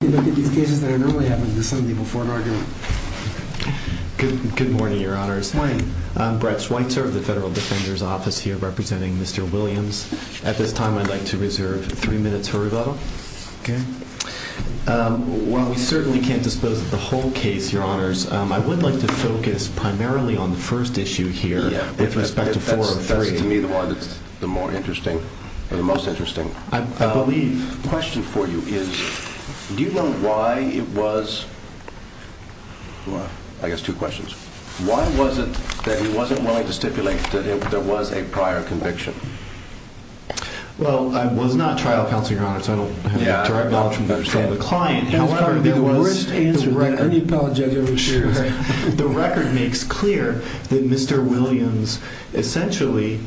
Good morning, your honors. I'm Brett Schweitzer of the Federal Defender's Office here representing Mr. Williams. At this time, I'd like to reserve three minutes for rebuttal. While we certainly can't dispose of the whole case, your honors, I would like to focus primarily on the first issue here with respect to four of three. That's to me the one that's the more interesting or the most interesting. The question for you is, do you know why it was, I guess two questions, why was it that he wasn't willing to stipulate that there was a prior conviction? Well, I was not trial counsel, your honors, so I don't have direct knowledge from the client. However, there was the record makes clear that Mr. Williams essentially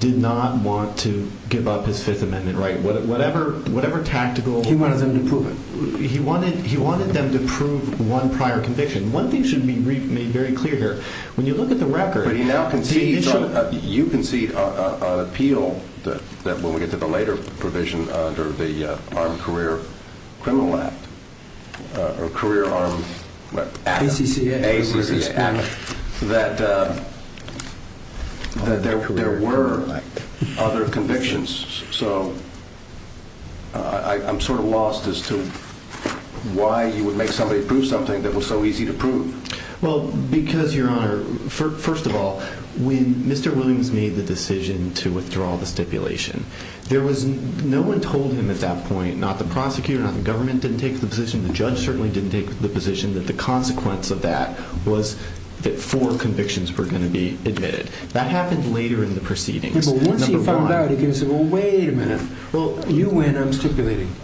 did not want to give up his fifth amendment, right? Whatever, whatever tactical, he wanted them to prove it. He wanted, he wanted them to prove one prior conviction. One thing should be made very clear here. When you look at the record, you can see an appeal that when we get to the later provision under the Armed Career Criminal Act or Career Armed Act, that there were other convictions. So I'm sort of lost as to why you would make somebody prove something that was so easy to prove. Well, because your honor, first of all, when Mr. Williams made the decision to withdraw the stipulation, there was no one told him at that point, not the prosecutor, not the government didn't take the position. The judge certainly didn't take the position that the consequence of that was that four convictions were going to be admitted. That happened later in the proceedings. Once he found out, he can say, well, wait a minute. Well, you win, I'm stipulating.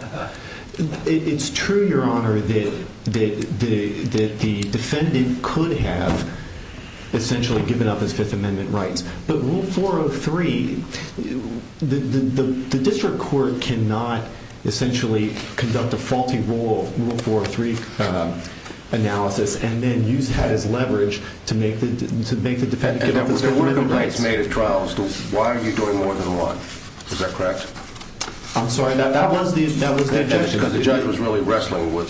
It's true, your honor, that the defendant could have essentially given up his fifth amendment rights, but rule 403, the district court cannot essentially conduct a faulty rule 403 analysis and then use that as leverage to make the defendant give up his fifth amendment rights. There were complaints made at trials. Why are you doing more than one? Is that correct? I'm sorry, that was the objection. Because the judge was really wrestling with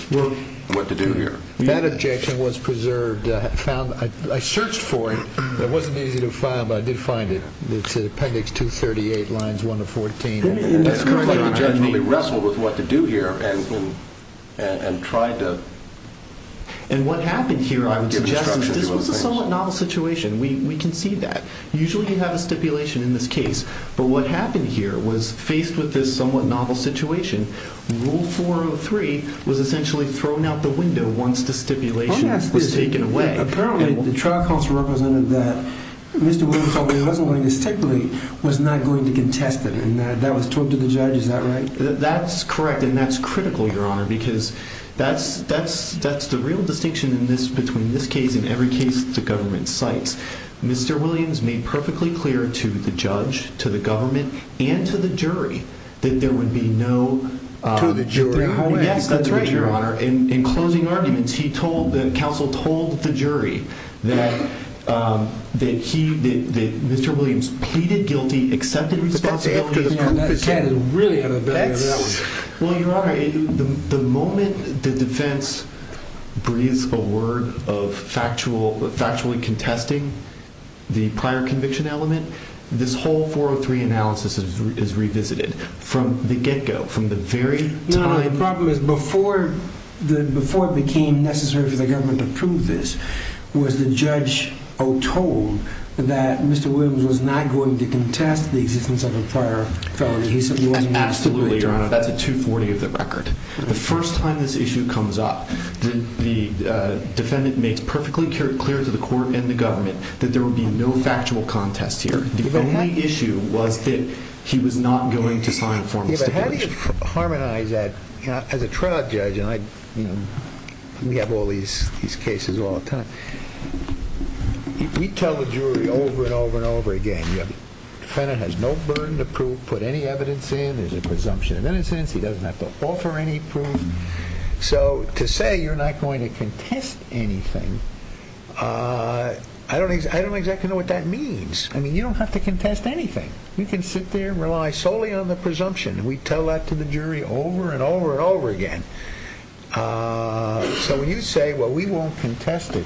what to do here. That objection was preserved. I searched for it. It wasn't easy to find, but I did find it. It's in Appendix 238, Lines 1 to 14. It looks like the judge really wrestled with what to do here and tried to- And what happened here, I would suggest, this was a somewhat novel situation. We can see that. Usually you have a stipulation in this case, but what happened here was faced with this somewhat novel situation, rule 403 was essentially thrown out the window once the stipulation was taken away. Apparently, the trial counsel represented that Mr. Williams, although he wasn't willing to stipulate, was not going to contest it and that was told to the judge. Is that right? That's correct and that's critical, Your Honor, because that's the real distinction in this, between this case and every case the government cites. Mr. Williams made perfectly clear to the judge, to the government, and to the jury that there would be no- To the jury? Yes, that's right, Your Honor. In closing arguments, he told, the counsel told the jury that Mr. Williams pleaded guilty, accepted responsibility- That's really out of the way. Well, Your Honor, the moment the defense breathes a word of factually contesting the prior conviction element, this whole 403 analysis is revisited from the get-go, from the very time- No, no, the problem is before it became necessary for the government to prove this, was the Absolutely, Your Honor, that's a 240 of the record. The first time this issue comes up, the defendant makes perfectly clear to the court and the government that there would be no factual contest here. The only issue was that he was not going to sign a formal stipulation. Yeah, but how do you harmonize that? As a trial judge, and I, you know, we have all these cases all the time, we tell the jury over and over and over again, the defendant has no burden to prove, put any evidence in, there's a presumption of innocence, he doesn't have to offer any proof. So, to say you're not going to contest anything, I don't exactly know what that means. I mean, you don't have to contest anything. You can sit there and rely solely on the presumption. We tell that to the jury over and over and over again. So, when you say, well, we won't contest it,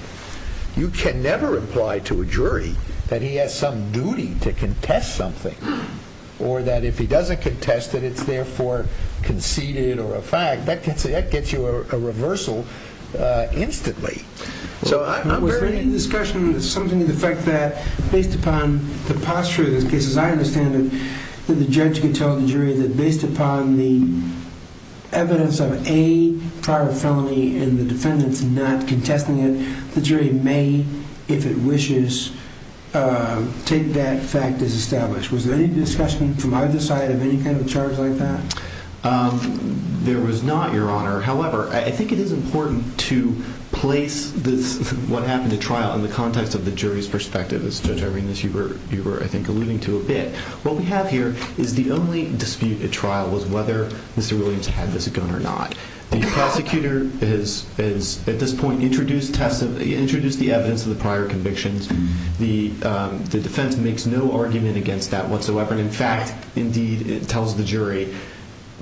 you can never imply to a jury that he has some duty to contest something, or that if he doesn't contest it, it's therefore conceded or a fact, that gets you a reversal instantly. So, I'm very in discussion with something to the effect that, based upon the posture of this case, as I understand it, that the judge can tell the jury that based upon the evidence of a prior felony and the defendant's not contesting it, the jury may, if it wishes, take that fact as established. Was there any discussion from either side of any kind of a charge like that? There was not, Your Honor. However, I think it is important to place what happened at trial in the context of the jury's perspective. As Judge Arenas, you were, I think, alluding to a bit. What we have here is the only dispute at trial was whether Mr. Williams had this gun or not. The prosecutor has, at this point, introduced the evidence of the prior convictions, the defense makes no argument against that whatsoever, and in fact, indeed, it tells the jury,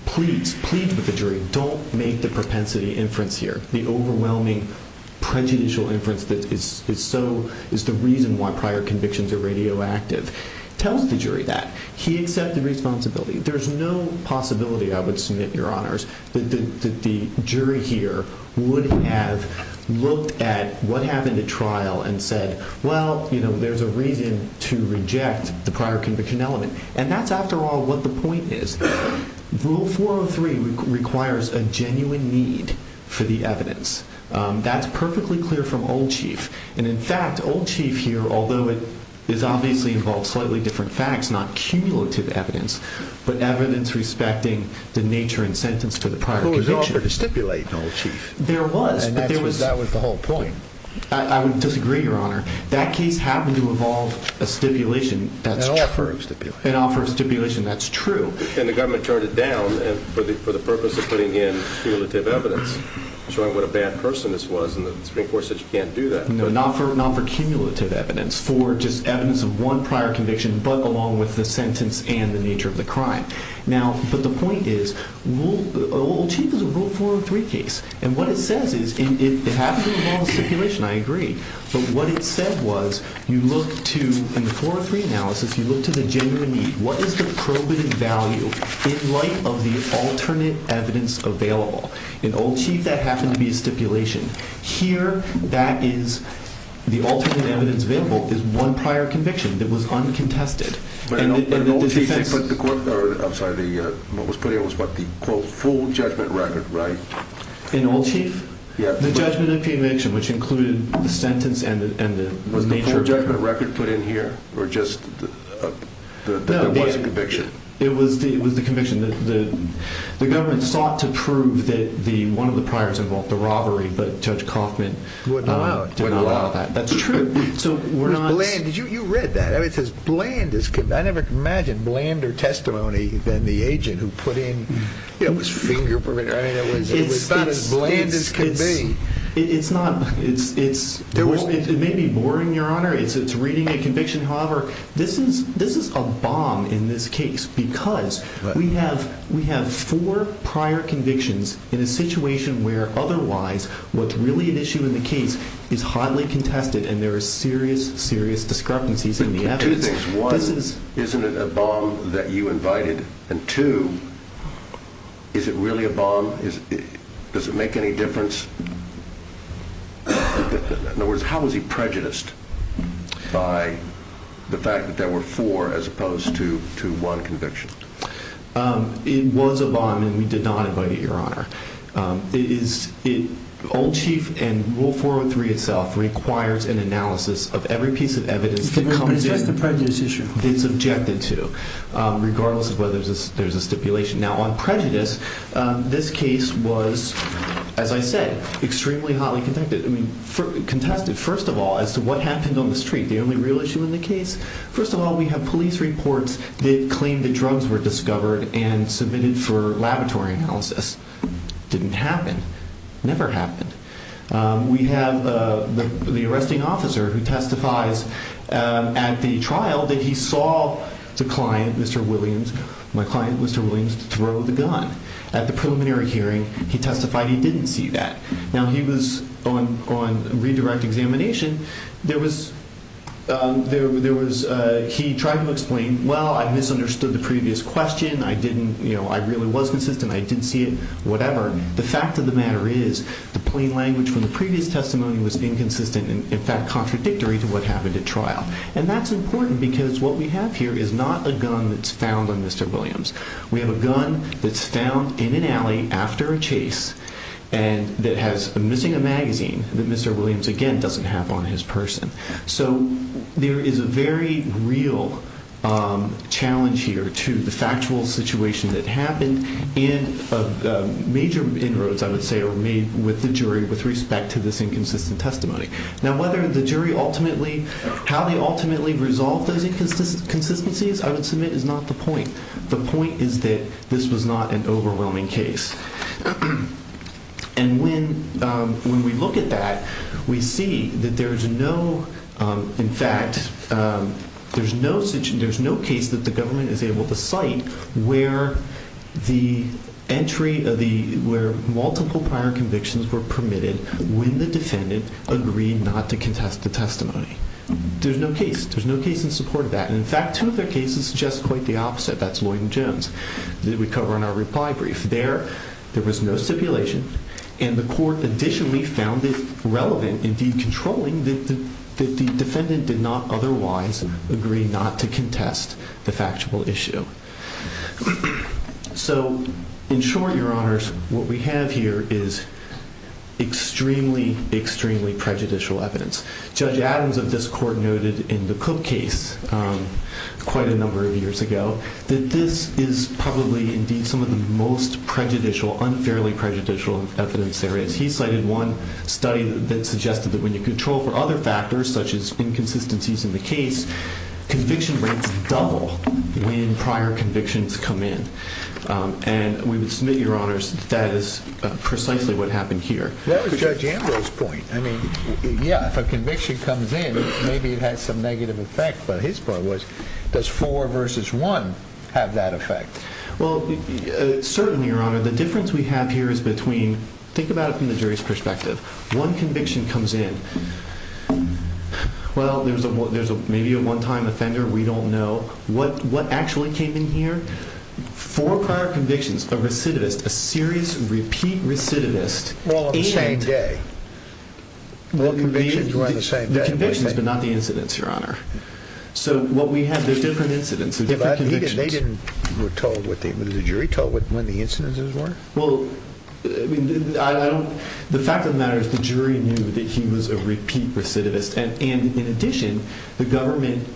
please, plead with the jury, don't make the propensity inference here. The overwhelming prejudicial inference that is so, is the reason why prior convictions are radioactive, tells the jury that. He accepted responsibility. There's no possibility, I would submit, Your Honors, that the jury here would have looked at what happened at trial and said, well, there's a reason to reject the prior conviction element. That's, after all, what the point is. Rule 403 requires a genuine need for the evidence. That's perfectly clear from Old Chief. In fact, Old Chief here, although it is obviously involved slightly different facts, not cumulative evidence, but evidence respecting the nature and sentence for the prior conviction. I was offered to stipulate, Old Chief. There was, but there was... That was the whole point. I would disagree, Your Honor. That case happened to involve a stipulation that's true. An offer of stipulation. An offer of stipulation that's true. And the government turned it down for the purpose of putting in cumulative evidence, showing what a bad person this was, and the Supreme Court said you can't do that. No, not for cumulative evidence, for just evidence of one prior conviction, but along with the sentence and the nature of the crime. Now, but the point is, Old Chief is a Rule 403 stipulation, I agree. But what it said was, you look to, in the 403 analysis, you look to the genuine need. What is the probative value in light of the alternate evidence available? In Old Chief, that happened to be a stipulation. Here, that is, the alternate evidence available is one prior conviction that was uncontested. But in Old Chief, they put the... I'm sorry, what was put in was what? The quote, full judgment record, right? In Old Chief? Yeah. The judgment of conviction, which included the sentence and the nature of the crime. Was the full judgment record put in here, or just the... there was a conviction? No, it was the conviction. The government sought to prove that one of the priors involved the robbery, but Judge Coffman... Would not allow it.... did not allow that. That's true. So we're not... It was bland. You read that. It says, bland is... I never imagined blander testimony than the agent who put in... It was finger print. I mean, it was about as bland as can be. It's not... It may be boring, Your Honor. It's reading a conviction. However, this is a bomb in this case, because we have four prior convictions in a situation where otherwise what's really an issue in the case is highly contested, and there are serious, serious discrepancies in the evidence. Two things. One, isn't it a bomb that you invited? And two, is it really a bomb? Does it make any difference? In other words, how was he prejudiced by the fact that there were four as opposed to one conviction? It was a bomb, and we did not invite it, Your Honor. Old Chief and Rule 403 itself requires an analysis of every piece of evidence that comes in... But it's just a prejudice issue. It's objected to, regardless of whether there's a stipulation. Now, on prejudice, this case was, as I said, extremely hotly contested. First of all, as to what happened on the street, the only real issue in the case, first of all, we have police reports that claim that drugs were discovered and submitted for laboratory analysis. Didn't happen. Never happened. We have the arresting officer who testifies at the trial that he saw the client, Mr. Williams, my client, Mr. Williams, throw the gun at the preliminary hearing. He testified he didn't see that. Now, he was on redirect examination. He tried to explain, well, I misunderstood the previous question. I really was consistent. I didn't see it. Whatever. The fact of the matter is the plain language from the previous testimony was inconsistent, in fact, contradictory to what happened at trial. And that's important because what we have here is not a gun that's found on Mr. Williams. We have a gun that's found in an alley after a chase and that has... missing a magazine that Mr. Williams, again, doesn't have on his person. So there is a very real challenge here to the factual situation that happened and major inroads, I would say, are made with the jury with respect to this inconsistent testimony. Now, whether the jury ultimately... how they ultimately resolve those inconsistencies, I would submit, is not the point. The point is that this was not an overwhelming case. And when we look at that, we see that there's no... in fact, there's no case that the government is able to cite where the entry of the... where multiple prior convictions were permitted when the defendant agreed not to contest the testimony. There's no case. There's no case in support of that. And in fact, two of their cases suggest quite the opposite. That's Lloyd and Jones that we cover in our reply brief. There, there was no stipulation and the court additionally found it relevant in decontrolling that the defendant did not otherwise agree not to contest the factual issue. So in short, your honors, what we have here is extremely, extremely prejudicial evidence. Judge Adams of this court noted in the Cook case quite a number of years ago that this is probably indeed some of the most prejudicial, unfairly prejudicial evidence there is. He cited one study that suggested that when you control for other factors, such as inconsistencies in the case, conviction rates double when prior convictions come in. And we would submit, your honors, that is precisely what happened here. That was Judge Ambrose's point. I mean, yeah, if a conviction comes in, maybe it has some negative effect, but his part was, does four versus one have that effect? Well, certainly, your honor, the difference we have here is between... think about it from the jury's perspective. One conviction comes in. Well, there's a, there's a, maybe a one-time offender. We don't know what, what actually came in here. Four prior convictions, a recidivist, a serious repeat recidivist. Well, on the same day. The convictions were on the same day. The convictions, but not the incidents, your honor. So what we have is different incidents and different convictions. They didn't, they didn't, were told, was the jury told when the incidents were? Well, I don't, the fact of the matter is the jury knew that he was a repeat recidivist. And in addition, the government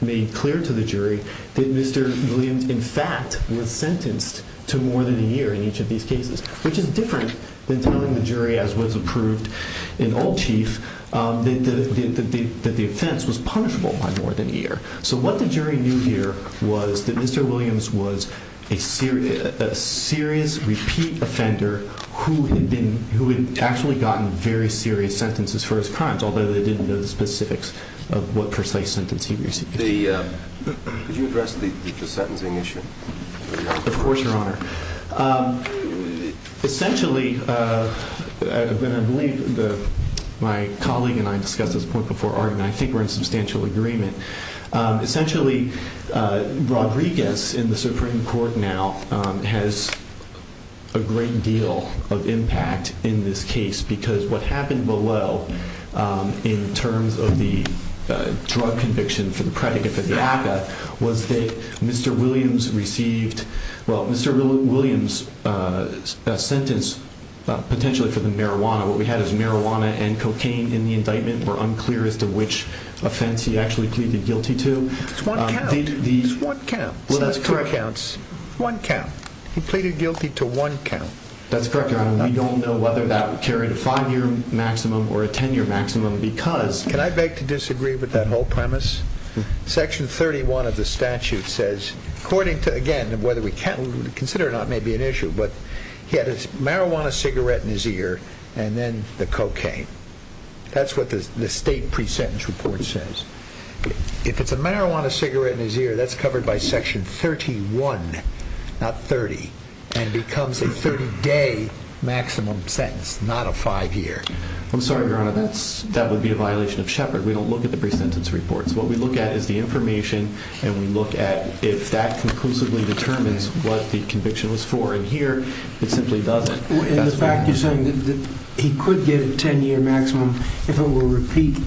made clear to the jury that Mr. Williams, in fact, was sentenced to more than a year in each of these cases, which is different than telling the jury, as was approved in Old Chief, that the offense was punishable by more than a year. So what the jury knew here was that Mr. Williams was a serious, a serious repeat offender who had been, who had actually gotten very serious sentences for his crimes, although they didn't know the specifics of what precise sentence he received. The, could you address the, the sentencing issue? Of course, your honor. Essentially, I believe the, my colleague and I discussed this point before, and I think we're in substantial agreement. Essentially, Rodriguez in the Supreme Court now has a great deal of impact in this case because what happened below, in terms of the drug conviction for the predicate for the ACCA, was that Mr. Williams received, well, Mr. Williams' sentence, potentially for the marijuana, what we had is marijuana and cocaine in the indictment were unclear as to which offense he actually pleaded guilty to. It's one count. It's one count. Well, that's correct. It's two counts. One count. He pleaded guilty to one count. That's correct, your honor. We don't know whether that carried a five-year maximum or a ten-year maximum because... Can I beg to disagree with that whole premise? Section 31 of the statute says, according to, again, whether we can't consider it or not may be an issue, but he had a marijuana cigarette in his ear and then the cocaine. That's what the state pre-sentence report says. If it's a marijuana cigarette in his ear, that's covered by section 31, not 30, and becomes a 30-day maximum sentence, not a five-year. I'm sorry, your honor, that would be a violation of Shepard. We don't look at the pre-sentence reports. What we look at is the information, and we look at if that conclusively determines what the conviction was for. And here, it simply doesn't. And the fact you're saying that he could get a ten-year maximum if it were a repeat...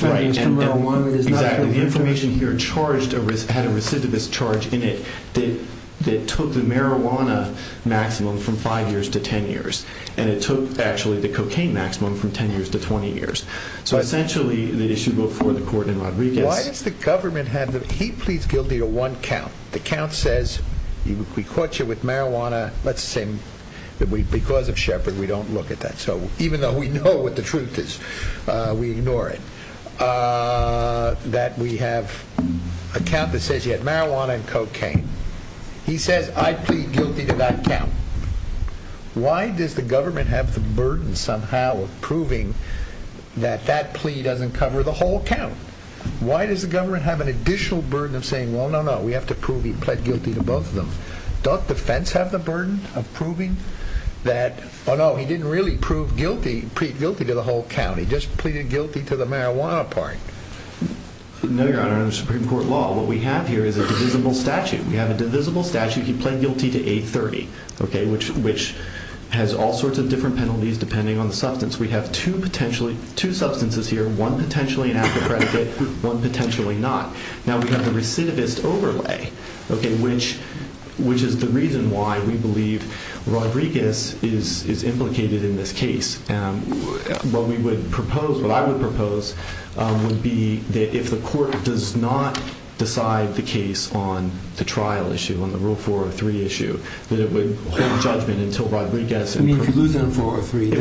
Right, and exactly. The information here had a recidivist charge in it that took the marijuana maximum from five years to ten years, and it took, actually, the cocaine maximum from ten years to 20 years. So, essentially, the issue before the court in Rodriguez... Why does the government have... He pleads guilty to one count. The count says, we caught you with marijuana. Let's assume that because of Shepard, we don't look at that. So, even though we know what the truth is, we ignore it. That we have a count that says you had marijuana and cocaine. He says, I plead guilty to that count. Why does the government have the burden, somehow, of proving that that plea doesn't cover the whole count? Why does the government have an additional burden of saying, well, no, no, we have to prove he pled guilty to both of them? Don't defense have the burden of proving that, oh, no, he didn't really plead guilty to the whole count. He just pleaded guilty to the marijuana part. No, Your Honor, under Supreme Court law, what we have here is a divisible statute. We have two possibilities, depending on the substance. We have two substances here, one potentially an act of predicate, one potentially not. Now, we have the recidivist overlay, which is the reason why we believe Rodriguez is implicated in this case. What we would propose, what I would propose, would be that if the court does not decide the case on the trial issue, on the Rule 403 issue, that it would hold judgment until Rodriguez... You mean if you lose it on 403?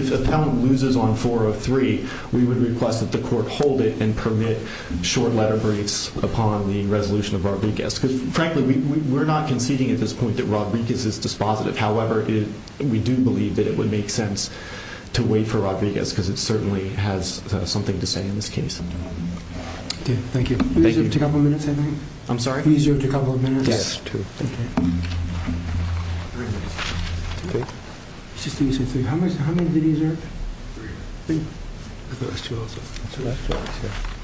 If the appellant loses on 403, we would request that the court hold it and permit short letter breaks upon the resolution of Rodriguez. Because, frankly, we're not conceding at this point that Rodriguez is dispositive. However, we do believe that it would make sense to wait for Rodriguez, because it certainly has something to say in this case. Okay, thank you. Thank you. You have a couple of minutes, I think? I'm sorry? You have a couple of minutes? Yes, two. Okay. Three minutes. Two minutes? Okay. It's just the usual three. How many did he deserve? Three. I thought it was two also. So that's two. Okay.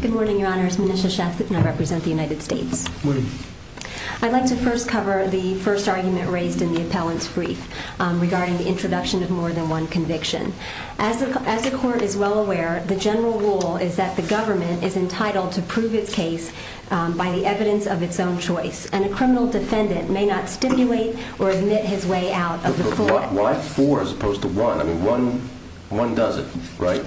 Good morning, Your Honor. It's Manisha Sheth, and I represent the United States. Morning. I'd like to first cover the first argument raised in the appellant's brief regarding the introduction of more than one conviction. As the court is well aware, the general rule is that the government is entitled to prove its case by the evidence of its own choice, and a criminal defendant may not stipulate or admit his way out of the court. But why four as opposed to one? I mean, one doesn't, right?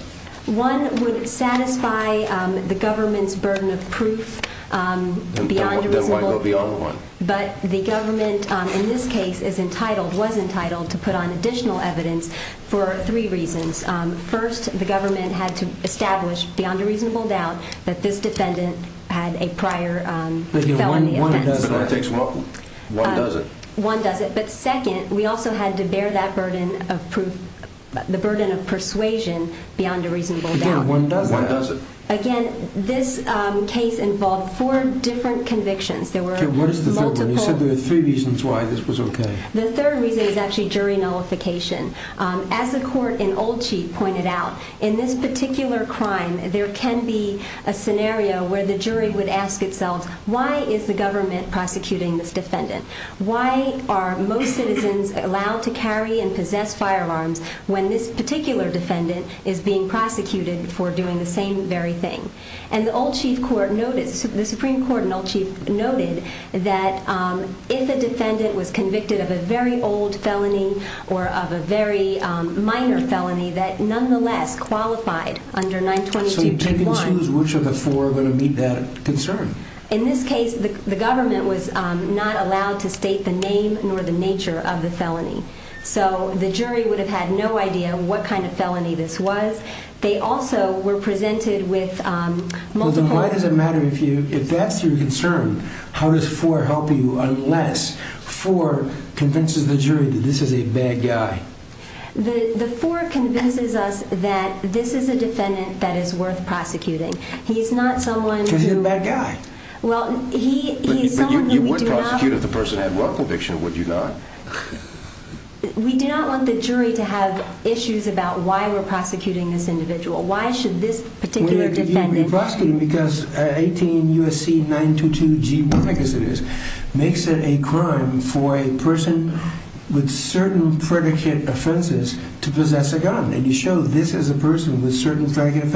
One would satisfy the government's burden of proof beyond a reasonable – Then why go beyond one? But the government, in this case, is entitled – was entitled – to put on additional evidence for three reasons. First, the government had to establish, beyond a reasonable doubt, that this defendant had a prior felony offense. But one doesn't. One doesn't. One doesn't. But second, we also had to bear that burden of proof – the burden of persuasion beyond a reasonable doubt. Again, one doesn't. One doesn't. Again, this case involved four different convictions. There were multiple – Okay, what is the third one? You said there were three reasons why this was okay. The third reason is actually jury nullification. As the court in Olchee pointed out, in this Why is the government prosecuting this defendant? Why are most citizens allowed to carry and possess firearms when this particular defendant is being prosecuted for doing the same very thing? And the Olchee court noted – the Supreme Court in Olchee noted that if a defendant was convicted of a very old felony or of a very minor felony that nonetheless qualified under 922.1 – So you can choose which of the four are going to meet that concern. In this case, the government was not allowed to state the name nor the nature of the felony. So the jury would have had no idea what kind of felony this was. They also were presented with multiple – So then why does it matter if that's your concern? How does four help you unless four convinces the jury that this is a bad guy? The four convinces us that this is a defendant that is worth prosecuting. He's not someone who – He's a bad guy. But you would prosecute if the person had well conviction, would you not? We do not want the jury to have issues about why we're prosecuting this individual. Why should this particular defendant – We're prosecuting because 18 U.S.C. 922.1 makes it a crime for a person with certain predicate offenses to possess a gun. And you show this is a person with certain predicate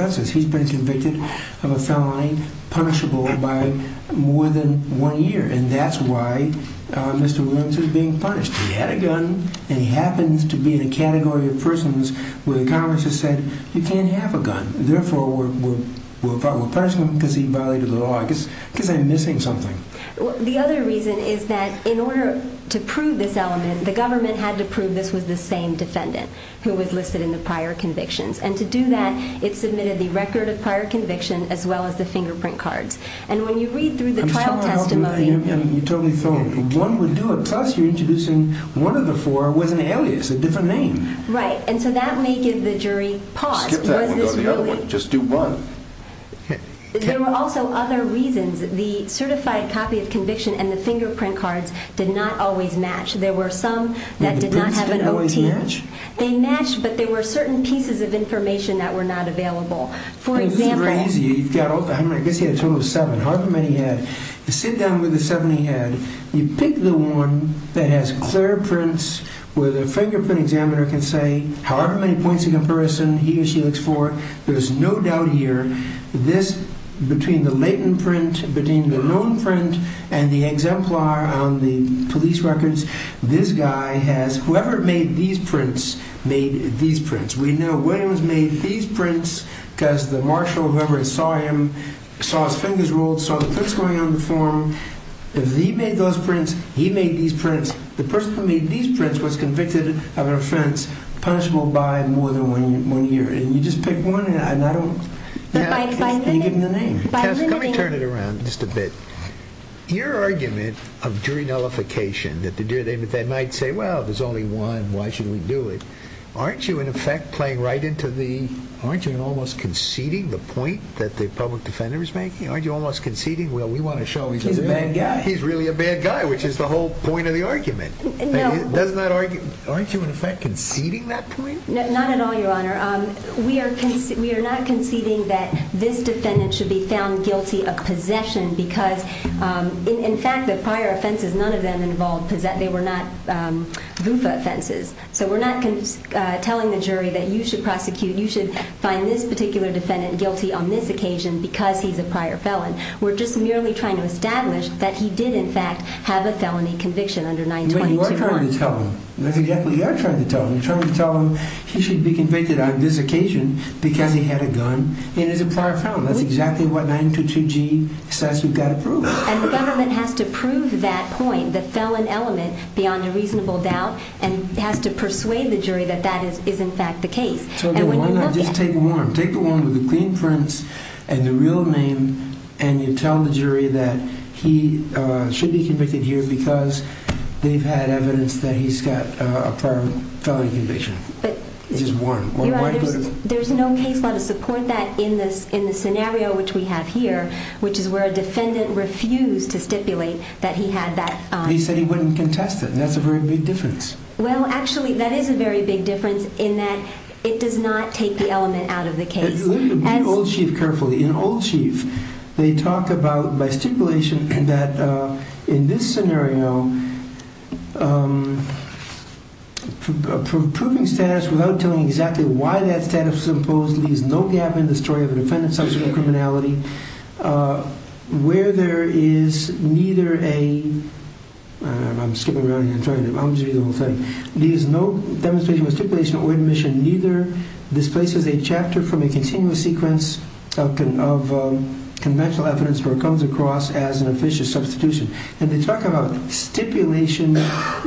punishable by more than one year. And that's why Mr. Williams is being punished. He had a gun and he happens to be in a category of persons where the Congress has said, you can't have a gun. Therefore, we're punishing him because he violated the law. I guess I'm missing something. The other reason is that in order to prove this element, the government had to prove this was the same defendant who was listed in the prior convictions. And to do that, it submitted the record of prior conviction as well as the fingerprint cards. And when you read through the trial testimony – I'm sorry, you totally throw me. One would do it, plus you're introducing one of the four was an alias, a different name. Right. And so that may give the jury pause. Skip that one, go to the other one. Just do one. There were also other reasons. The certified copy of conviction and the fingerprint cards did not always match. There were some that did not have an O.T. The prints didn't always match? They matched, but there were certain pieces of information that were not available. For example – This is crazy. I guess he had a total of seven. However many he had. You sit down with the seven he had, you pick the one that has clear prints where the fingerprint examiner can say however many points of comparison he or she looks for, there's no doubt here, this between the latent print, between the known print and the exemplar on the police records, this guy has – whoever made these prints, made these prints. We know Williams made these prints because the marshal, whoever saw him, saw his fingers rolled, saw the prints going on the form. If he made those prints, he made these prints. The person who made these prints was convicted of an offense punishable by more than one year. And you just pick one and I don't – But by limiting – Cass, let me turn it around just a bit. Your argument of jury nullification, that the jury that night say, well, there's only one, why should we do it, aren't you in effect playing right into the – aren't you almost conceding the point that the public defendant was making? Aren't you almost conceding, well, we want to show he's a bad guy. He's really a bad guy, which is the whole point of the argument. No – Doesn't that argue – aren't you in effect conceding that point? Not at all, Your Honor. We are not conceding that this defendant should be found guilty of possession because, in fact, the prior offenses, none of them involved – they were not VUFA offenses. So we're not telling the jury that you should prosecute, you should find this particular defendant guilty on this occasion because he's a prior felon. We're just merely trying to establish that he did, in fact, have a felony conviction under 9221. But you are trying to tell him. That's exactly what you are trying to tell him. You're trying to tell him he should be convicted on this occasion because he had a gun and he's a prior felon. That's exactly what 922G says we've got to prove. And the government has to prove that point, the felon element, beyond a reasonable doubt, and has to persuade the jury that that is, in fact, the case. So why not just take one? Take the one with the clean prints and the real name and you tell the jury that he should be convicted here because they've had evidence that he's got a prior felony conviction. Just one. Your Honor, there's no case law to support that in the scenario which we have here, which is where a defendant refused to stipulate that he had that. He said he wouldn't contest it. That's a very big difference. Well, actually, that is a very big difference in that it does not take the element out of the case. Look at Old Chief carefully. In Old Chief, they talk about, by stipulation, that in this case, the reason why that status is imposed leaves no gap in the story of a defendant substituting criminality where there is neither a, I'm skipping around here, I'm just going to read the whole thing, leaves no demonstration of stipulation or admission, neither displaces a chapter from a continuous sequence of conventional evidence where it comes across as an officious substitution. And they talk about stipulation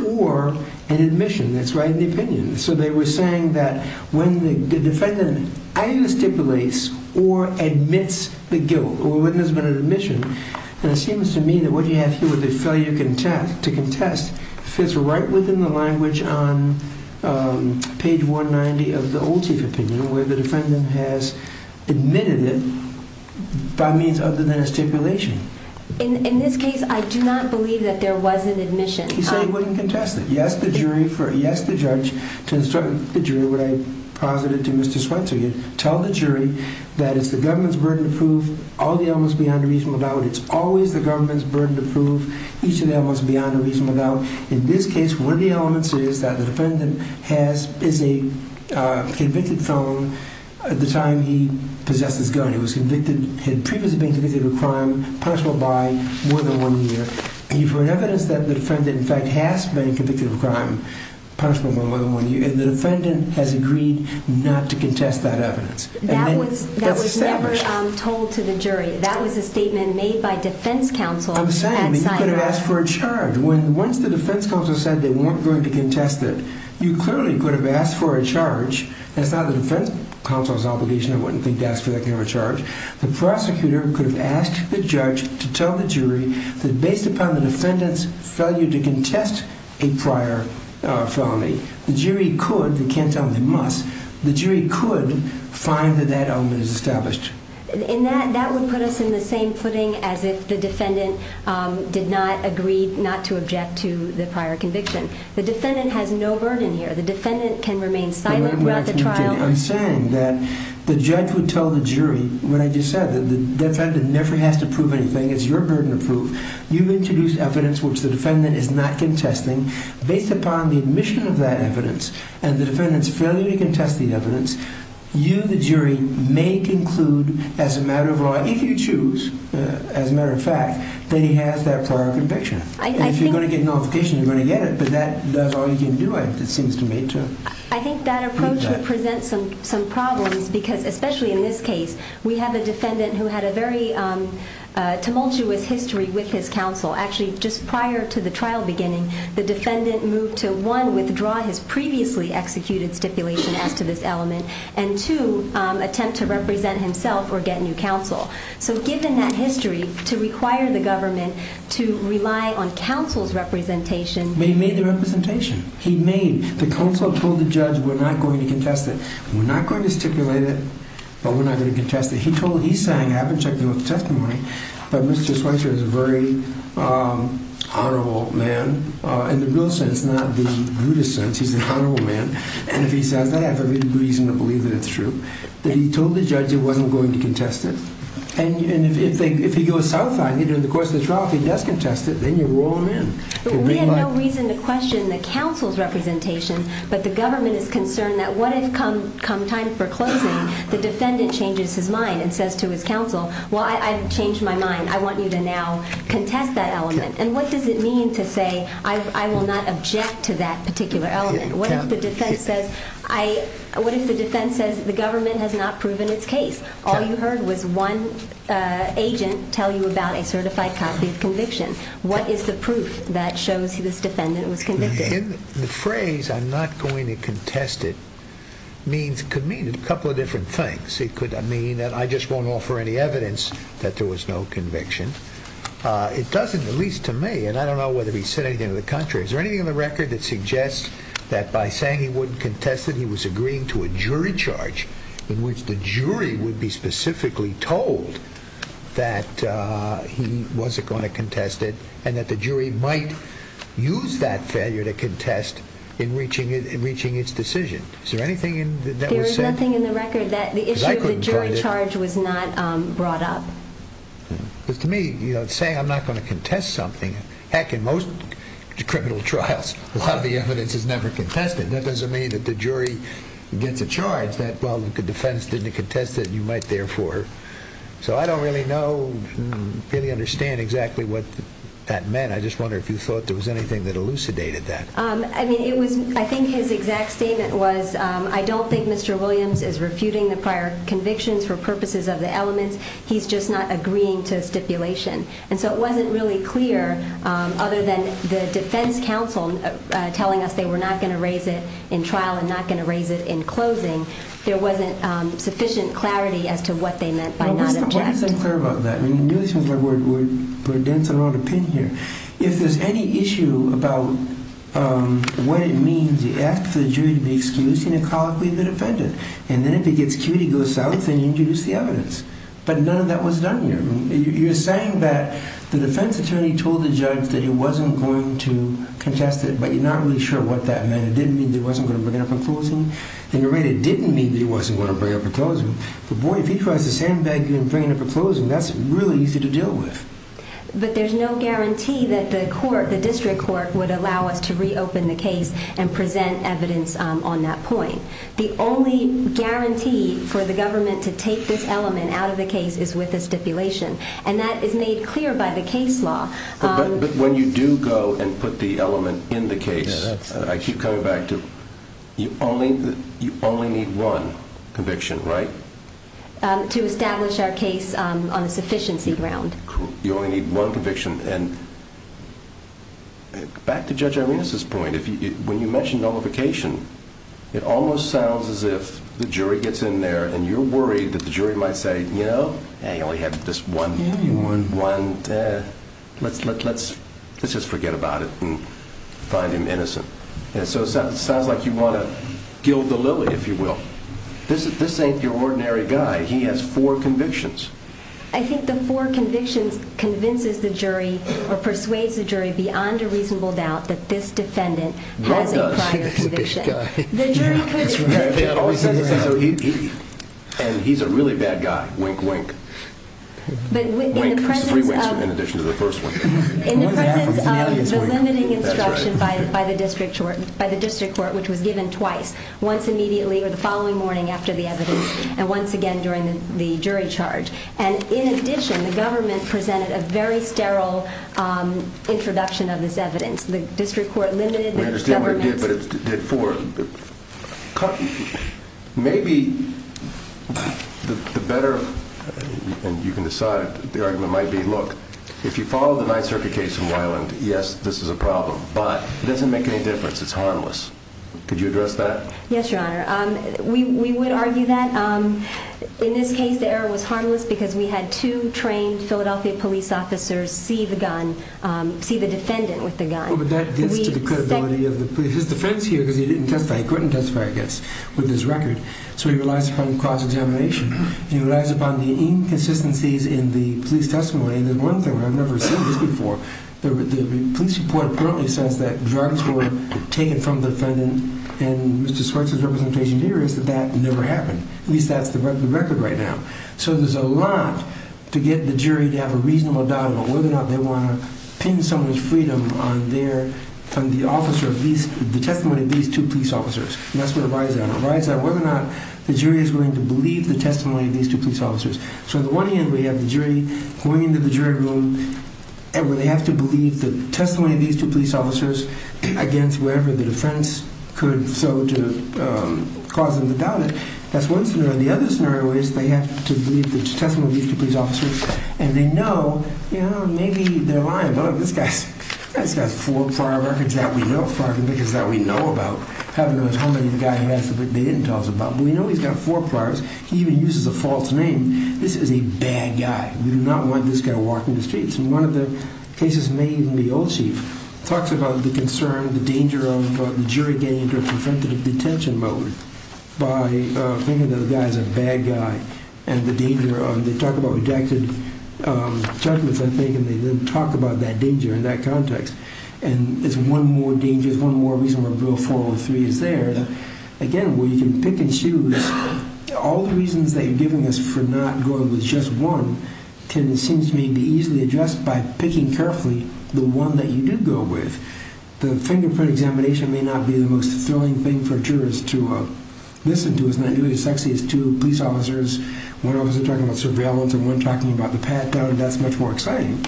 or an admission. That's right in the opinion. So they were saying that when the defendant either stipulates or admits the guilt or when there's been an admission, and it seems to me that what you have here with the failure to contest fits right within the language on page 190 of the Old Chief opinion where the defendant has admitted it by means other than a stipulation. In this case, I do not believe that there was an admission. He said he wouldn't contest it. He asked the judge to instruct the jury, what I posited to Mr. Swenson, tell the jury that it's the government's burden to prove all the elements beyond a reasonable doubt. It's always the government's burden to prove each of the elements beyond a reasonable doubt. In this case, one of the elements is that the defendant is a convicted felon. At the time he possessed this gun, he had previously been convicted of a crime punishable by more than one year. You've heard evidence that the defendant in fact has been convicted of a crime punishable by more than one year, and the defendant has agreed not to contest that evidence. That was never told to the jury. That was a statement made by defense counsel at Sinai. You could have asked for a charge. Once the defense counsel said they weren't going to contest it, you clearly could have asked for a charge. That's not the defense counsel's obligation. I wouldn't think to ask for that kind of a charge. The prosecutor could have asked the judge to tell the jury that based upon the defendant's failure to contest a prior felony, the jury could, they can't tell him they must, the jury could find that that element is established. And that would put us in the same footing as if the defendant did not agree not to object to the prior conviction. The defendant has no burden here. The defendant can remain silent throughout the trial. I'm saying that the judge would tell the jury, what I just said, the defendant never has to prove anything. It's your burden to prove. You've introduced evidence which the defendant is not contesting. Based upon the admission of that evidence and the defendant's failure to contest the evidence, you, the jury, may conclude as a matter of law, if you choose, as a matter of fact, that he has that prior conviction. And if you're going to get a notification, you're going to get it, but that's all you can do, it seems to me. I think that approach would present some problems because, especially in this case, we have a defendant who had a very tumultuous history with his counsel. Actually, just prior to the trial beginning, the defendant moved to, one, withdraw his previously executed stipulation as to this element, and two, attempt to represent himself or get new counsel. So given that history, to require the government to rely on counsel's representation. They made the representation. He made, the counsel told the judge, we're not going to contest it. We're not going to stipulate it, but we're not going to contest it. He told, he sang, I haven't checked him with the testimony, but Mr. Schweitzer is a very honorable man, in the real sense, not the brutish sense. He's an honorable man. And if he says that, I have every reason to believe that it's true. But he told the judge he wasn't going to contest it. And if he goes south on it, in the course of the trial, if he does contest it, then we'll roll him in. We have no reason to question the counsel's representation, but the government is concerned that what if, come time for closing, the defendant changes his mind and says to his counsel, well, I've changed my mind. I want you to now contest that element. And what does it mean to say, I will not object to that particular element? What if the defense says, the government has not proven its case? All you heard was one agent tell you about a certified copy of conviction. What is the proof that shows this defendant was convicted? The phrase, I'm not going to contest it, could mean a couple of different things. It could mean that I just won't offer any evidence that there was no conviction. It doesn't, at least to me, and I don't know whether he said anything to the contrary. Is there anything on the record that suggests that by saying he wouldn't contest it, he was agreeing to a jury charge in which the jury would be specifically told that he wasn't going to contest it, and that the jury might use that failure to contest in reaching its decision? Is there anything that was said? There is nothing in the record that the issue of the jury charge was not brought up. Because to me, saying I'm not going to contest something, heck, in most criminal trials, a lot of the evidence is never contested. That doesn't mean that the jury gets a charge that, well, the defense didn't contest it, and you might therefore. So I don't really know, really understand exactly what that meant. I just wonder if you thought there was anything that elucidated that. I think his exact statement was, I don't think Mr. Williams is refuting the prior convictions for purposes of the elements. He's just not agreeing to a stipulation. And so it wasn't really clear, other than the defense counsel telling us they were not going to raise it in trial and not going to raise it in closing. There wasn't sufficient clarity as to what they meant by not objecting. Well, what is unclear about that? We're dancing around a pin here. If there's any issue about what it means, you ask for the jury to be excused, and you call up the defendant. And then if he gets cute, he goes south, and you introduce the evidence. But none of that was done here. You're saying that the defense attorney told the judge that he wasn't going to contest it, but you're not really sure what that meant. It didn't mean that he wasn't going to bring it up in closing? In a way, it didn't mean that he wasn't going to bring it up in closing. But boy, if he tries to sandbag you in bringing it up in closing, that's really easy to deal with. But there's no guarantee that the court, the district court, would allow us to reopen the case and present evidence on that point. The only guarantee for the government to take this element out of the case is with a stipulation. And that is made clear by the case law. But when you do go and put the element in the case, I keep coming back to, you only need one conviction, right? To establish our case on a sufficiency ground. You only need one conviction. And back to Judge Arenas' point. When you mention nullification, it almost sounds as if the jury gets in there and you're worried that the jury might say, you know, you only have this one, let's just forget about it and find him innocent. So it sounds like you want to gild the lily, if you will. This ain't your ordinary guy. He has four convictions. I think the four convictions convinces the jury or persuades the jury beyond a reasonable doubt that this defendant has a prior conviction. And he's a really bad guy. Wink, wink. Three winks in addition to the first one. In the presence of the limiting instruction by the district court, which was given twice, once immediately or the following morning after the evidence and once again during the jury charge. And in addition, the government presented a very sterile introduction of this evidence. The district court limited the government's... I understand what it did, but it did four. Maybe the better, and you can decide, the argument might be, look, if you follow the Ninth Circuit case in Wyoming, yes, this is a problem. But it doesn't make any difference. It's harmless. Could you address that? Yes, Your Honor. We would argue that. In this case, the error was harmless because we had two trained Philadelphia police officers see the defendant with the gun. But that gets to the credibility of the police. His defense here because he didn't testify. He couldn't testify, I guess, with his record. So he relies upon cross-examination. He relies upon the inconsistencies in the police testimony. And there's one thing where I've never seen this before. The police report apparently says that drugs were taken from the defendant and Mr. Schweitzer's representation here is that that never happened. At least that's the record right now. So there's a lot to get the jury to have a reasonable doubt about whether or not they want to pin someone's freedom on the testimony of these two police officers. And that's where it rides on. It rides on whether or not the jury is willing to believe the testimony of these two police officers. So on the one hand, we have the jury going into the jury room where they have to believe the testimony of these two police officers against whatever the defense could so to cause them to doubt it. That's one scenario. The other scenario is they have to believe the testimony of these two police officers and they know, you know, maybe they're lying. Look, this guy's got four prior records that we know about. I don't know how many of the guys he has that they didn't tell us about. But we know he's got four priors. He even uses a false name. This is a bad guy. We do not want this guy walking the streets. And one of the cases made in the Old Chief talks about the concern, the danger of the jury getting into a preventative detention mode by thinking that the guy's a bad guy and the danger of they talk about rejected judgments, I think, and they then talk about that danger in that context. And there's one more danger, there's one more reason why Bill 403 is there. Again, we can pick and choose. All the reasons they're giving us for not going with just one can, it seems to me, be easily addressed by picking carefully the one that you do go with. The fingerprint examination may not be the most thrilling thing for jurors to listen to. It's not nearly as sexy as two police officers, one officer talking about surveillance and one talking about the pat-down, and that's much more exciting.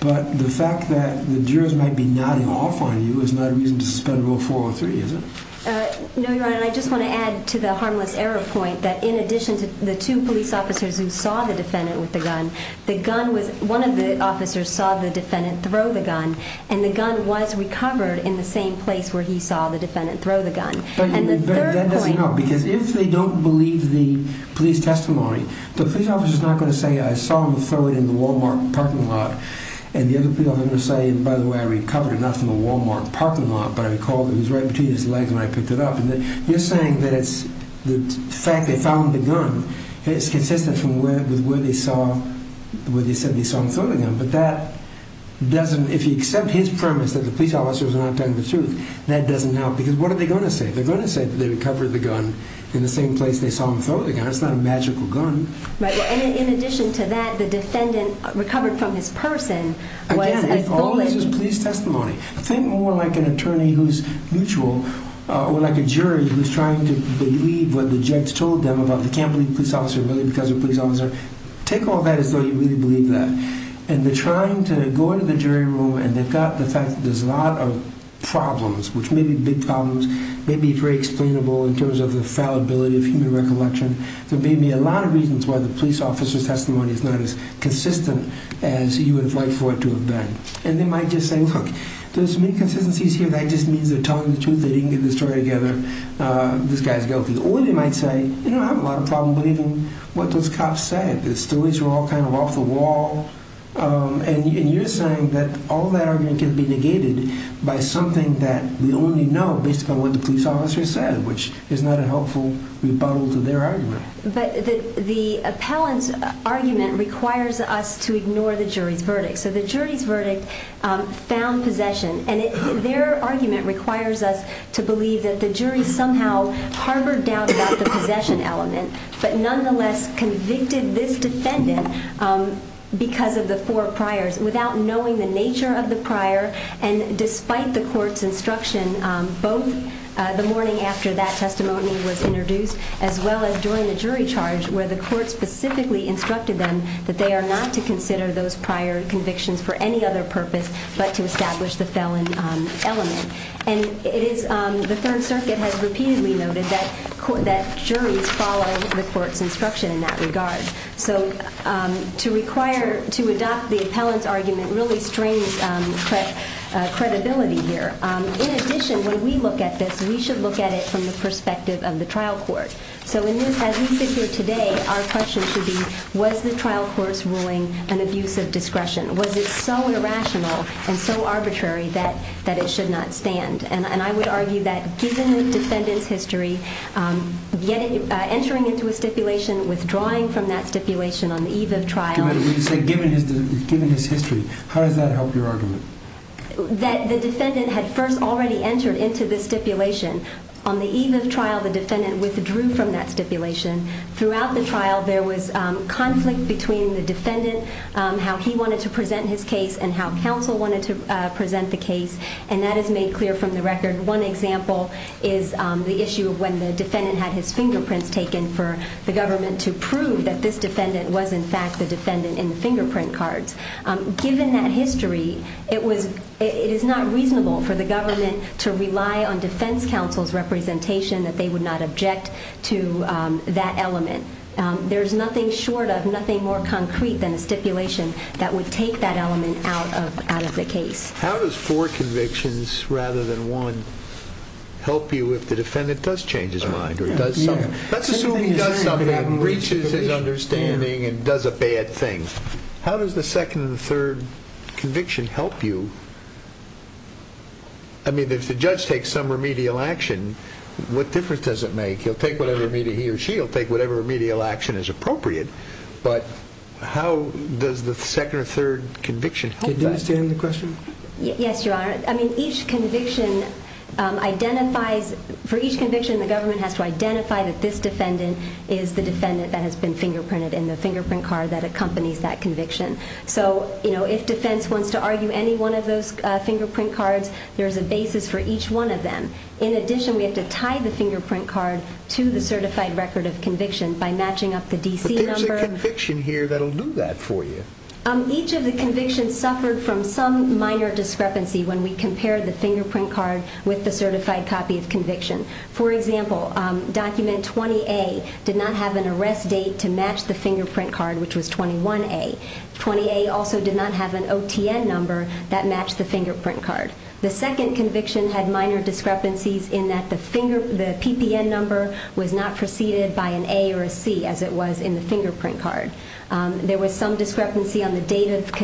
But the fact that the jurors might be nodding off on you is not a reason to suspend Bill 403, is it? No, Your Honor, and I just want to add to the harmless error point that in addition to the two police officers who saw the defendant with the gun, one of the officers saw the defendant throw the gun, and the gun was recovered in the same place where he saw the defendant throw the gun. That doesn't help, because if they don't believe the police testimony, the police officer is not going to say, I saw him throw it in the Walmart parking lot, and the other police officer is going to say, by the way, I recovered it not from the Walmart parking lot, but I recalled it was right between his legs when I picked it up. You're saying that the fact they found the gun is consistent with where they said they saw him throw the gun, but if you accept his premise that the police officer was not telling the truth, that doesn't help, because what are they going to say? They're going to say that they recovered the gun in the same place they saw him throw the gun. It's not a magical gun. In addition to that, the defendant recovered from his person was a thievery. Again, all this is police testimony. Think more like an attorney who's mutual, or like a jury who's trying to believe what the judge told them about they can't believe the police officer really because they're a police officer. Take all that as though you really believe that. And they're trying to go into the jury room, and they've got the fact that there's a lot of problems, which may be big problems, may be very explainable in terms of the fallibility of human recollection. There may be a lot of reasons why the police officer's testimony is not as consistent as you would have liked for it to have been. And they might just say, look, there's inconsistencies here. That just means they're telling the truth. They didn't get the story together. This guy's guilty. Or they might say, you know, I have a lot of problems believing what those cops said. The stories were all kind of off the wall. And you're saying that all that argument can be negated by something that we only know based upon what the police officer said, which is not a helpful rebuttal to their argument. But the appellant's argument requires us to ignore the jury's verdict. So the jury's verdict found possession. And their argument requires us to believe that the jury somehow harbored doubt about the possession element, but nonetheless convicted this defendant because of the four priors without knowing the nature of the prior, and despite the court's instruction both the morning after that testimony was introduced as well as during the jury charge where the court specifically instructed them that they are not to consider those prior convictions for any other purpose but to establish the felon element. And the Third Circuit has repeatedly noted that juries follow the court's instruction in that regard. So to adopt the appellant's argument really strains credibility here. In addition, when we look at this, we should look at it from the perspective of the trial court. So in this, as we sit here today, our question should be, was the trial court's ruling an abuse of discretion? Was it so irrational and so arbitrary that it should not stand? And I would argue that given the defendant's history, entering into a stipulation, withdrawing from that stipulation on the eve of trial. Given his history, how does that help your argument? That the defendant had first already entered into the stipulation. On the eve of trial, the defendant withdrew from that stipulation. Throughout the trial, there was conflict between the defendant, how he wanted to present his case and how counsel wanted to present the case, and that is made clear from the record. One example is the issue of when the defendant had his fingerprints taken for the government to prove that this defendant was in fact the defendant in the fingerprint cards. Given that history, it is not reasonable for the government to rely on defense counsel's representation that they would not object to that element. There is nothing short of, nothing more concrete than a stipulation that would take that element out of the case. How does four convictions rather than one help you if the defendant does change his mind or does something? Let's assume he does something and reaches his understanding and does a bad thing. How does the second and third conviction help you? If the judge takes some remedial action, what difference does it make? He or she will take whatever remedial action is appropriate, but how does the second or third conviction help that? Did you understand the question? Yes, Your Honor. For each conviction, the government has to identify that this defendant is the defendant that has been fingerprinted in the fingerprint card that accompanies that conviction. If defense wants to argue any one of those fingerprint cards, there is a basis for each one of them. In addition, we have to tie the fingerprint card to the certified record of conviction by matching up the DC number. But there's a conviction here that will do that for you. Each of the convictions suffered from some minor discrepancy when we compared the fingerprint card with the certified copy of conviction. For example, document 20A did not have an arrest date to match the fingerprint card, which was 21A. 20A also did not have an OTN number that matched the fingerprint card. The second conviction had minor discrepancies in that the PPN number was not preceded by an A or a C, as it was in the fingerprint card. There was some discrepancy on the date of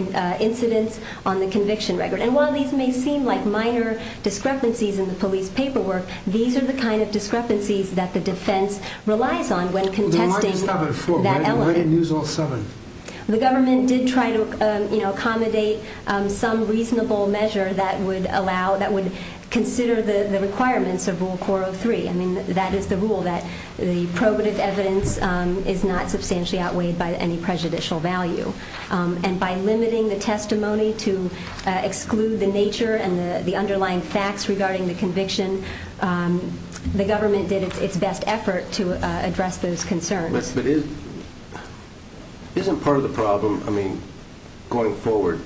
incidence on the conviction record. And while these may seem like minor discrepancies in the police paperwork, these are the kind of discrepancies that the defense relies on when contesting that element. Why didn't you use all seven? The government did try to accommodate some reasonable measure that would consider the requirements of Rule 403. That is the rule that the probative evidence is not substantially outweighed by any prejudicial value. And by limiting the testimony to exclude the nature and the underlying facts regarding the conviction, the government did its best effort to address those concerns. But isn't part of the problem, I mean, going forward,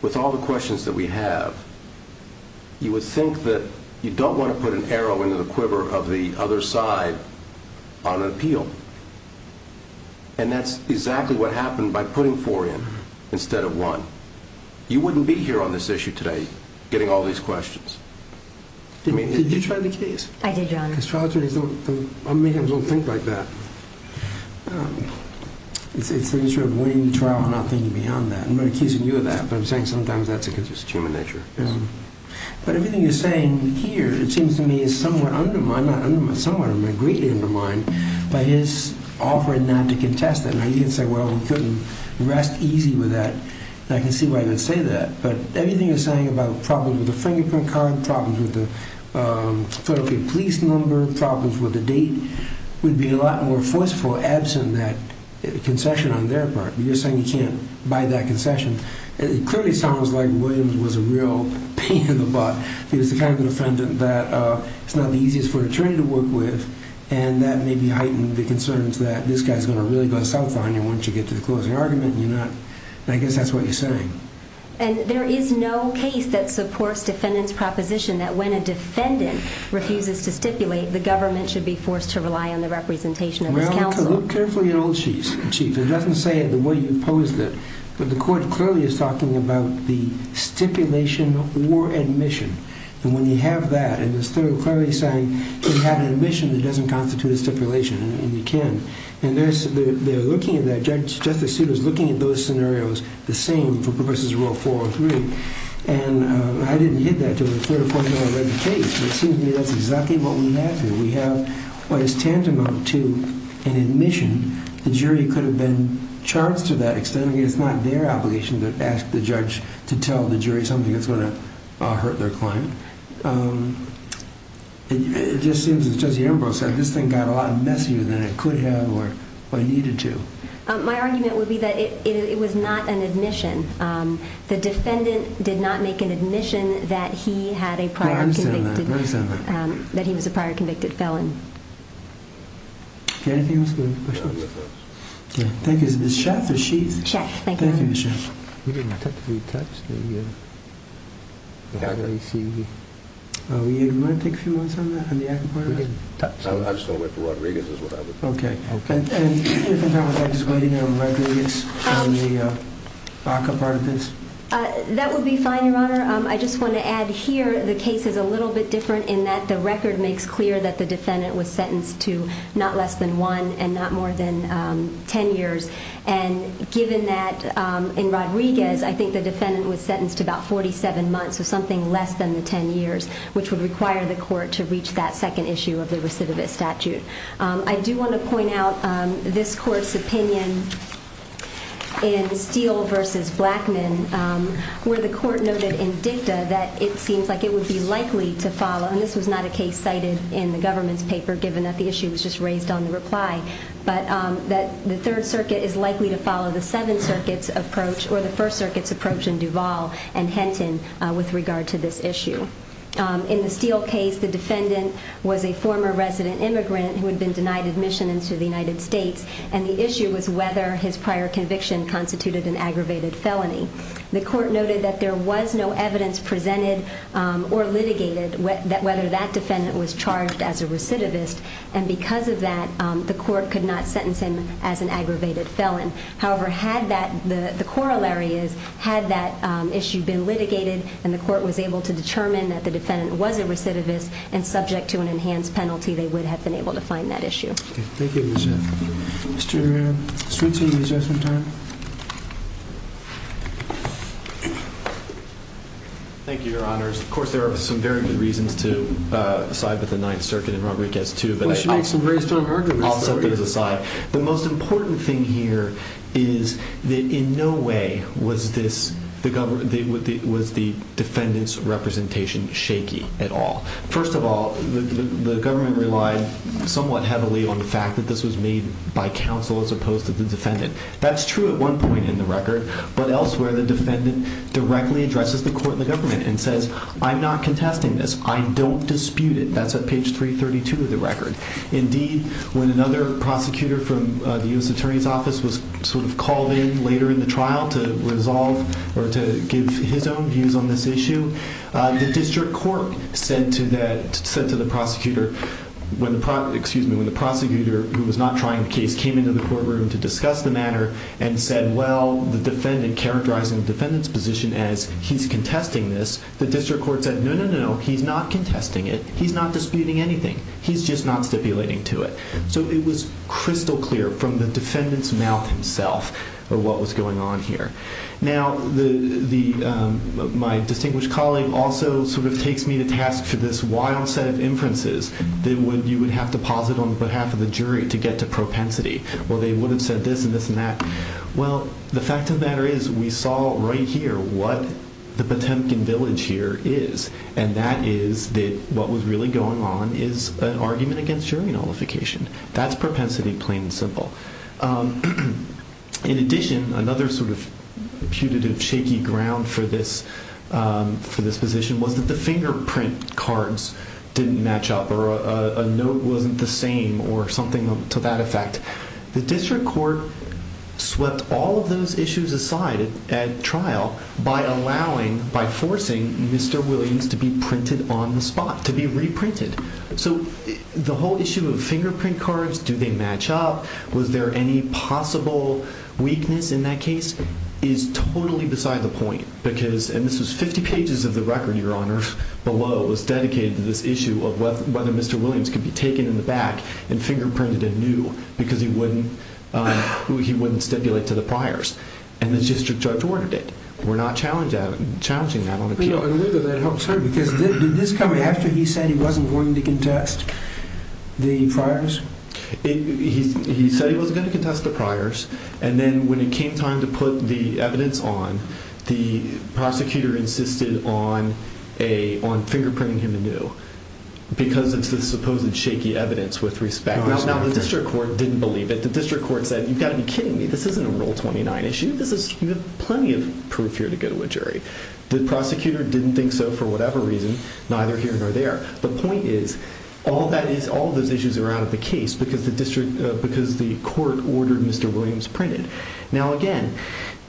with all the questions that we have, you would think that you don't want to put an arrow into the quiver of the other side on an appeal. And that's exactly what happened by putting four in instead of one. You wouldn't be here on this issue today getting all these questions. Did you try the keys? I did, Your Honor. Because trial attorneys don't think like that. It's the nature of winning the trial and not thinking beyond that. I'm not accusing you of that, but I'm saying sometimes that's a human nature. But everything you're saying here, it seems to me, is somewhat undermined, somewhat or greatly undermined, by his offering not to contest it. Now, you can say, well, we couldn't rest easy with that. I can see why you would say that. But everything you're saying about problems with the fingerprint card, problems with the federal police number, problems with the date, would be a lot more forceful absent that concession on their part. You're saying you can't buy that concession. It clearly sounds like Williams was a real pain in the butt. He was the kind of defendant that it's not the easiest for an attorney to work with, and that maybe heightened the concerns that this guy is going to really go south on you once you get to the closing argument. I guess that's what you're saying. And there is no case that supports defendant's proposition that when a defendant refuses to stipulate, the government should be forced to rely on the representation of his counsel. Well, look carefully at Old Chief. It doesn't say it the way you posed it. But the court clearly is talking about the stipulation or admission. And when you have that, and the court is clearly saying, if you have an admission, it doesn't constitute a stipulation, and you can't. And they're looking at that. Judge Justice Souter is looking at those scenarios the same for Professors Rule 403. And I didn't get that until the third or fourth time I read the case. But it seems to me that's exactly what we have here. We have what is tantamount to an admission. The jury could have been charged to that extent. I mean, it's not their obligation to ask the judge to tell the jury something that's going to hurt their client. It just seems, as Judge Ambrose said, this thing got a lot messier than it could have or needed to. My argument would be that it was not an admission. The defendant did not make an admission that he was a prior convicted felon. Anything else? Thank you. Is it the chef or she? Thank you. Thank you, Michelle. Do you want to take a few moments on that, on the ACCA part of this? I just don't wait for Rodriguez is what I would do. Okay. And if I'm not wrong, just waiting on Rodriguez on the ACCA part of this? That would be fine, Your Honor. I just want to add here the case is a little bit different in that the record makes clear that the defendant was sentenced to not less than one and not more than ten years. And given that, in Rodriguez, I think the defendant was sentenced to about 47 months, so something less than the ten years, which would require the court to reach that second issue of the recidivist statute. I do want to point out this court's opinion in Steele v. Blackman, where the court noted in dicta that it seems like it would be likely to follow. And this was not a case cited in the government's paper, given that the issue was just raised on the reply, but that the Third Circuit is likely to follow the Seventh Circuit's approach or the First Circuit's approach in Duval and Henton with regard to this issue. In the Steele case, the defendant was a former resident immigrant who had been denied admission into the United States, and the issue was whether his prior conviction constituted an aggravated felony. The court noted that there was no evidence presented or litigated whether that defendant was charged as a recidivist, and because of that, the court could not sentence him as an aggravated felon. However, the corollary is, had that issue been litigated and the court was able to determine that the defendant was a recidivist and subject to an enhanced penalty, they would have been able to find that issue. Thank you, Your Honor. Mr. Streets, any adjustment time? Thank you, Your Honors. Of course, there are some very good reasons to side with the Ninth Circuit and Rodriguez too, but I'll set those aside. The most important thing here is that in no way was the defendant's representation shaky at all. First of all, the government relied somewhat heavily on the fact that this was made by counsel as opposed to the defendant. That's true at one point in the record, but elsewhere the defendant directly addresses the court and the government and says, I'm not contesting this. I don't dispute it. That's at page 332 of the record. Indeed, when another prosecutor from the U.S. Attorney's Office was sort of called in later in the trial to resolve or to give his own views on this issue, the district court said to the prosecutor, when the prosecutor who was not trying the case came into the courtroom to discuss the matter and said, well, the defendant, characterizing the defendant's position as he's contesting this, the district court said, no, no, no, he's not contesting it. He's not disputing anything. He's just not stipulating to it. So it was crystal clear from the defendant's mouth himself what was going on here. Now, my distinguished colleague also sort of takes me to task for this wild set of inferences that you would have to posit on behalf of the jury to get to propensity. Well, they would have said this and this and that. Well, the fact of the matter is we saw right here what the Potemkin village here is, and that is that what was really going on is an argument against jury nullification. That's propensity plain and simple. In addition, another sort of putative shaky ground for this position was that the fingerprint cards didn't match up or a note wasn't the same or something to that effect. The district court swept all of those issues aside at trial by allowing, by forcing Mr. Williams to be printed on the spot, to be reprinted. So the whole issue of fingerprint cards, do they match up, was there any possible weakness in that case, is totally beside the point because, and this was 50 pages of the record, Your Honor, below was dedicated to this issue of whether Mr. Williams could be taken in the back and fingerprinted anew because he wouldn't stipulate to the priors. And the district judge ordered it. We're not challenging that on appeal. Well, I believe that that helps her because did this come after he said he wasn't going to contest the priors? He said he wasn't going to contest the priors, and then when it came time to put the evidence on, the prosecutor insisted on fingerprinting him anew because it's the supposed shaky evidence with respect. Now, the district court didn't believe it. The district court said, you've got to be kidding me. This isn't a Rule 29 issue. This is plenty of proof here to go to a jury. The prosecutor didn't think so for whatever reason, neither here nor there. The point is all of those issues are out of the case because the court ordered Mr. Williams printed. Now, again,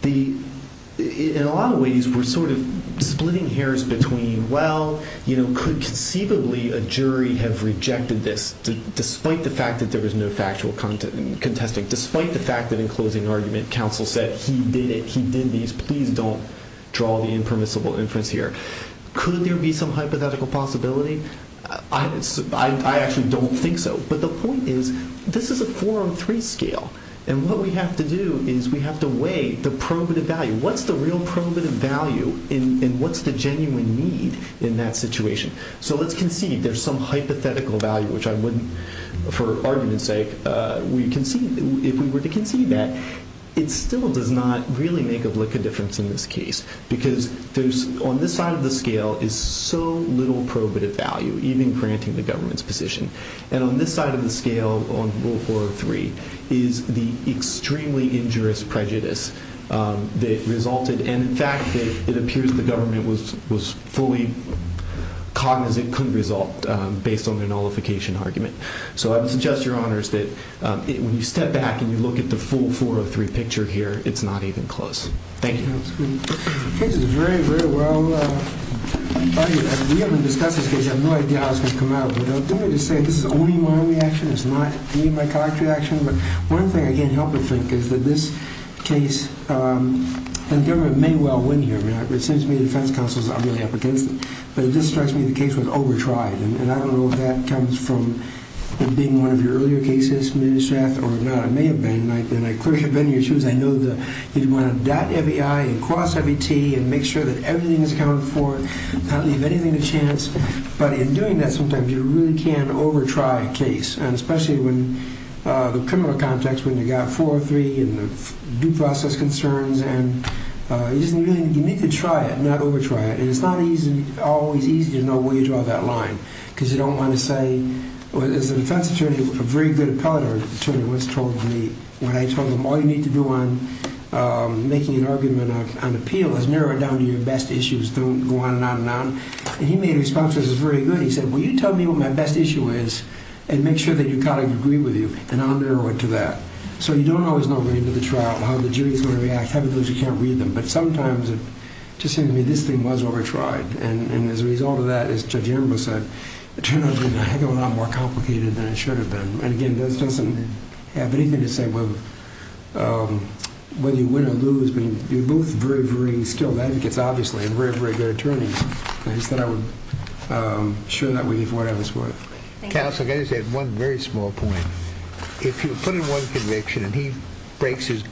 in a lot of ways we're sort of splitting hairs between, well, could conceivably a jury have rejected this despite the fact that there was no factual contesting, despite the fact that in closing argument counsel said he did it, he did these, please don't draw the impermissible inference here. Could there be some hypothetical possibility? I actually don't think so, but the point is this is a four-on-three scale, and what we have to do is we have to weigh the probative value. What's the real probative value and what's the genuine need in that situation? So let's concede there's some hypothetical value, which I wouldn't for argument's sake. If we were to concede that, it still does not really make a difference in this case because on this side of the scale is so little probative value, even granting the government's position, and on this side of the scale on rule 403 is the extremely injurious prejudice that resulted, and in fact it appears the government was fully cognizant it couldn't result based on their nullification argument. So I would suggest, Your Honors, that when you step back and you look at the full 403 picture here, it's not even close. Thank you. The case is very, very well argued. We haven't discussed this case. I have no idea how it's going to come out, but let me just say this is only my reaction. It's not any of my collective reaction, but one thing I can't help but think is that this case, and the government may well win here. It seems to me the defense counsels are really up against it, but it just strikes me the case was over-tried, and I don't know if that comes from it being one of your earlier cases, maybe, Strath, or not. It may have been, and I clearly have been in your shoes. I know that you want to dot every I and cross every T and make sure that everything is accounted for, not leave anything to chance, but in doing that sometimes you really can over-try a case, and especially in the criminal context when you've got 403 and due process concerns, and you need to try it, not over-try it, and it's not always easy to know where you draw that line. Because you don't want to say, as a defense attorney, a very good appellate attorney once told me, when I told him all you need to do on making an argument on appeal is narrow it down to your best issues. Don't go on and on and on, and he made a response that was very good. He said, well, you tell me what my best issue is and make sure that your colleagues agree with you, and I'll narrow it to that. So you don't always know at the end of the trial how the jury is going to react, how many of those you can't read, but sometimes it just seems to me this thing was over-tried, and as a result of that, as Judge Emberl said, it turned out to be a heck of a lot more complicated than it should have been. And, again, this doesn't have anything to say whether you win or lose. I mean, you're both very, very skilled advocates, obviously, and very, very good attorneys. I just thought I would share that with you for whatever it's worth. Counsel, I've got to say one very small point. If you put in one conviction and he breaks his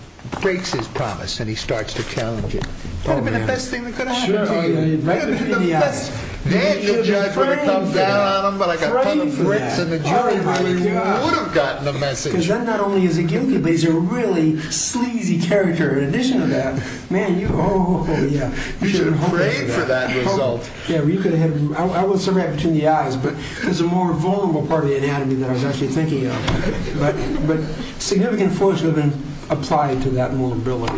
promise and he starts to challenge it, that would have been the best thing that could have happened to you. You should have been praying for that. You should have prayed for that. Because then not only is he guilty, but he's a really sleazy character in addition to that. You should have prayed for that result. I won't say right between the eyes, but there's a more vulnerable part of the anatomy that I was actually thinking of. But significant forces have been applied to that vulnerability in anatomy.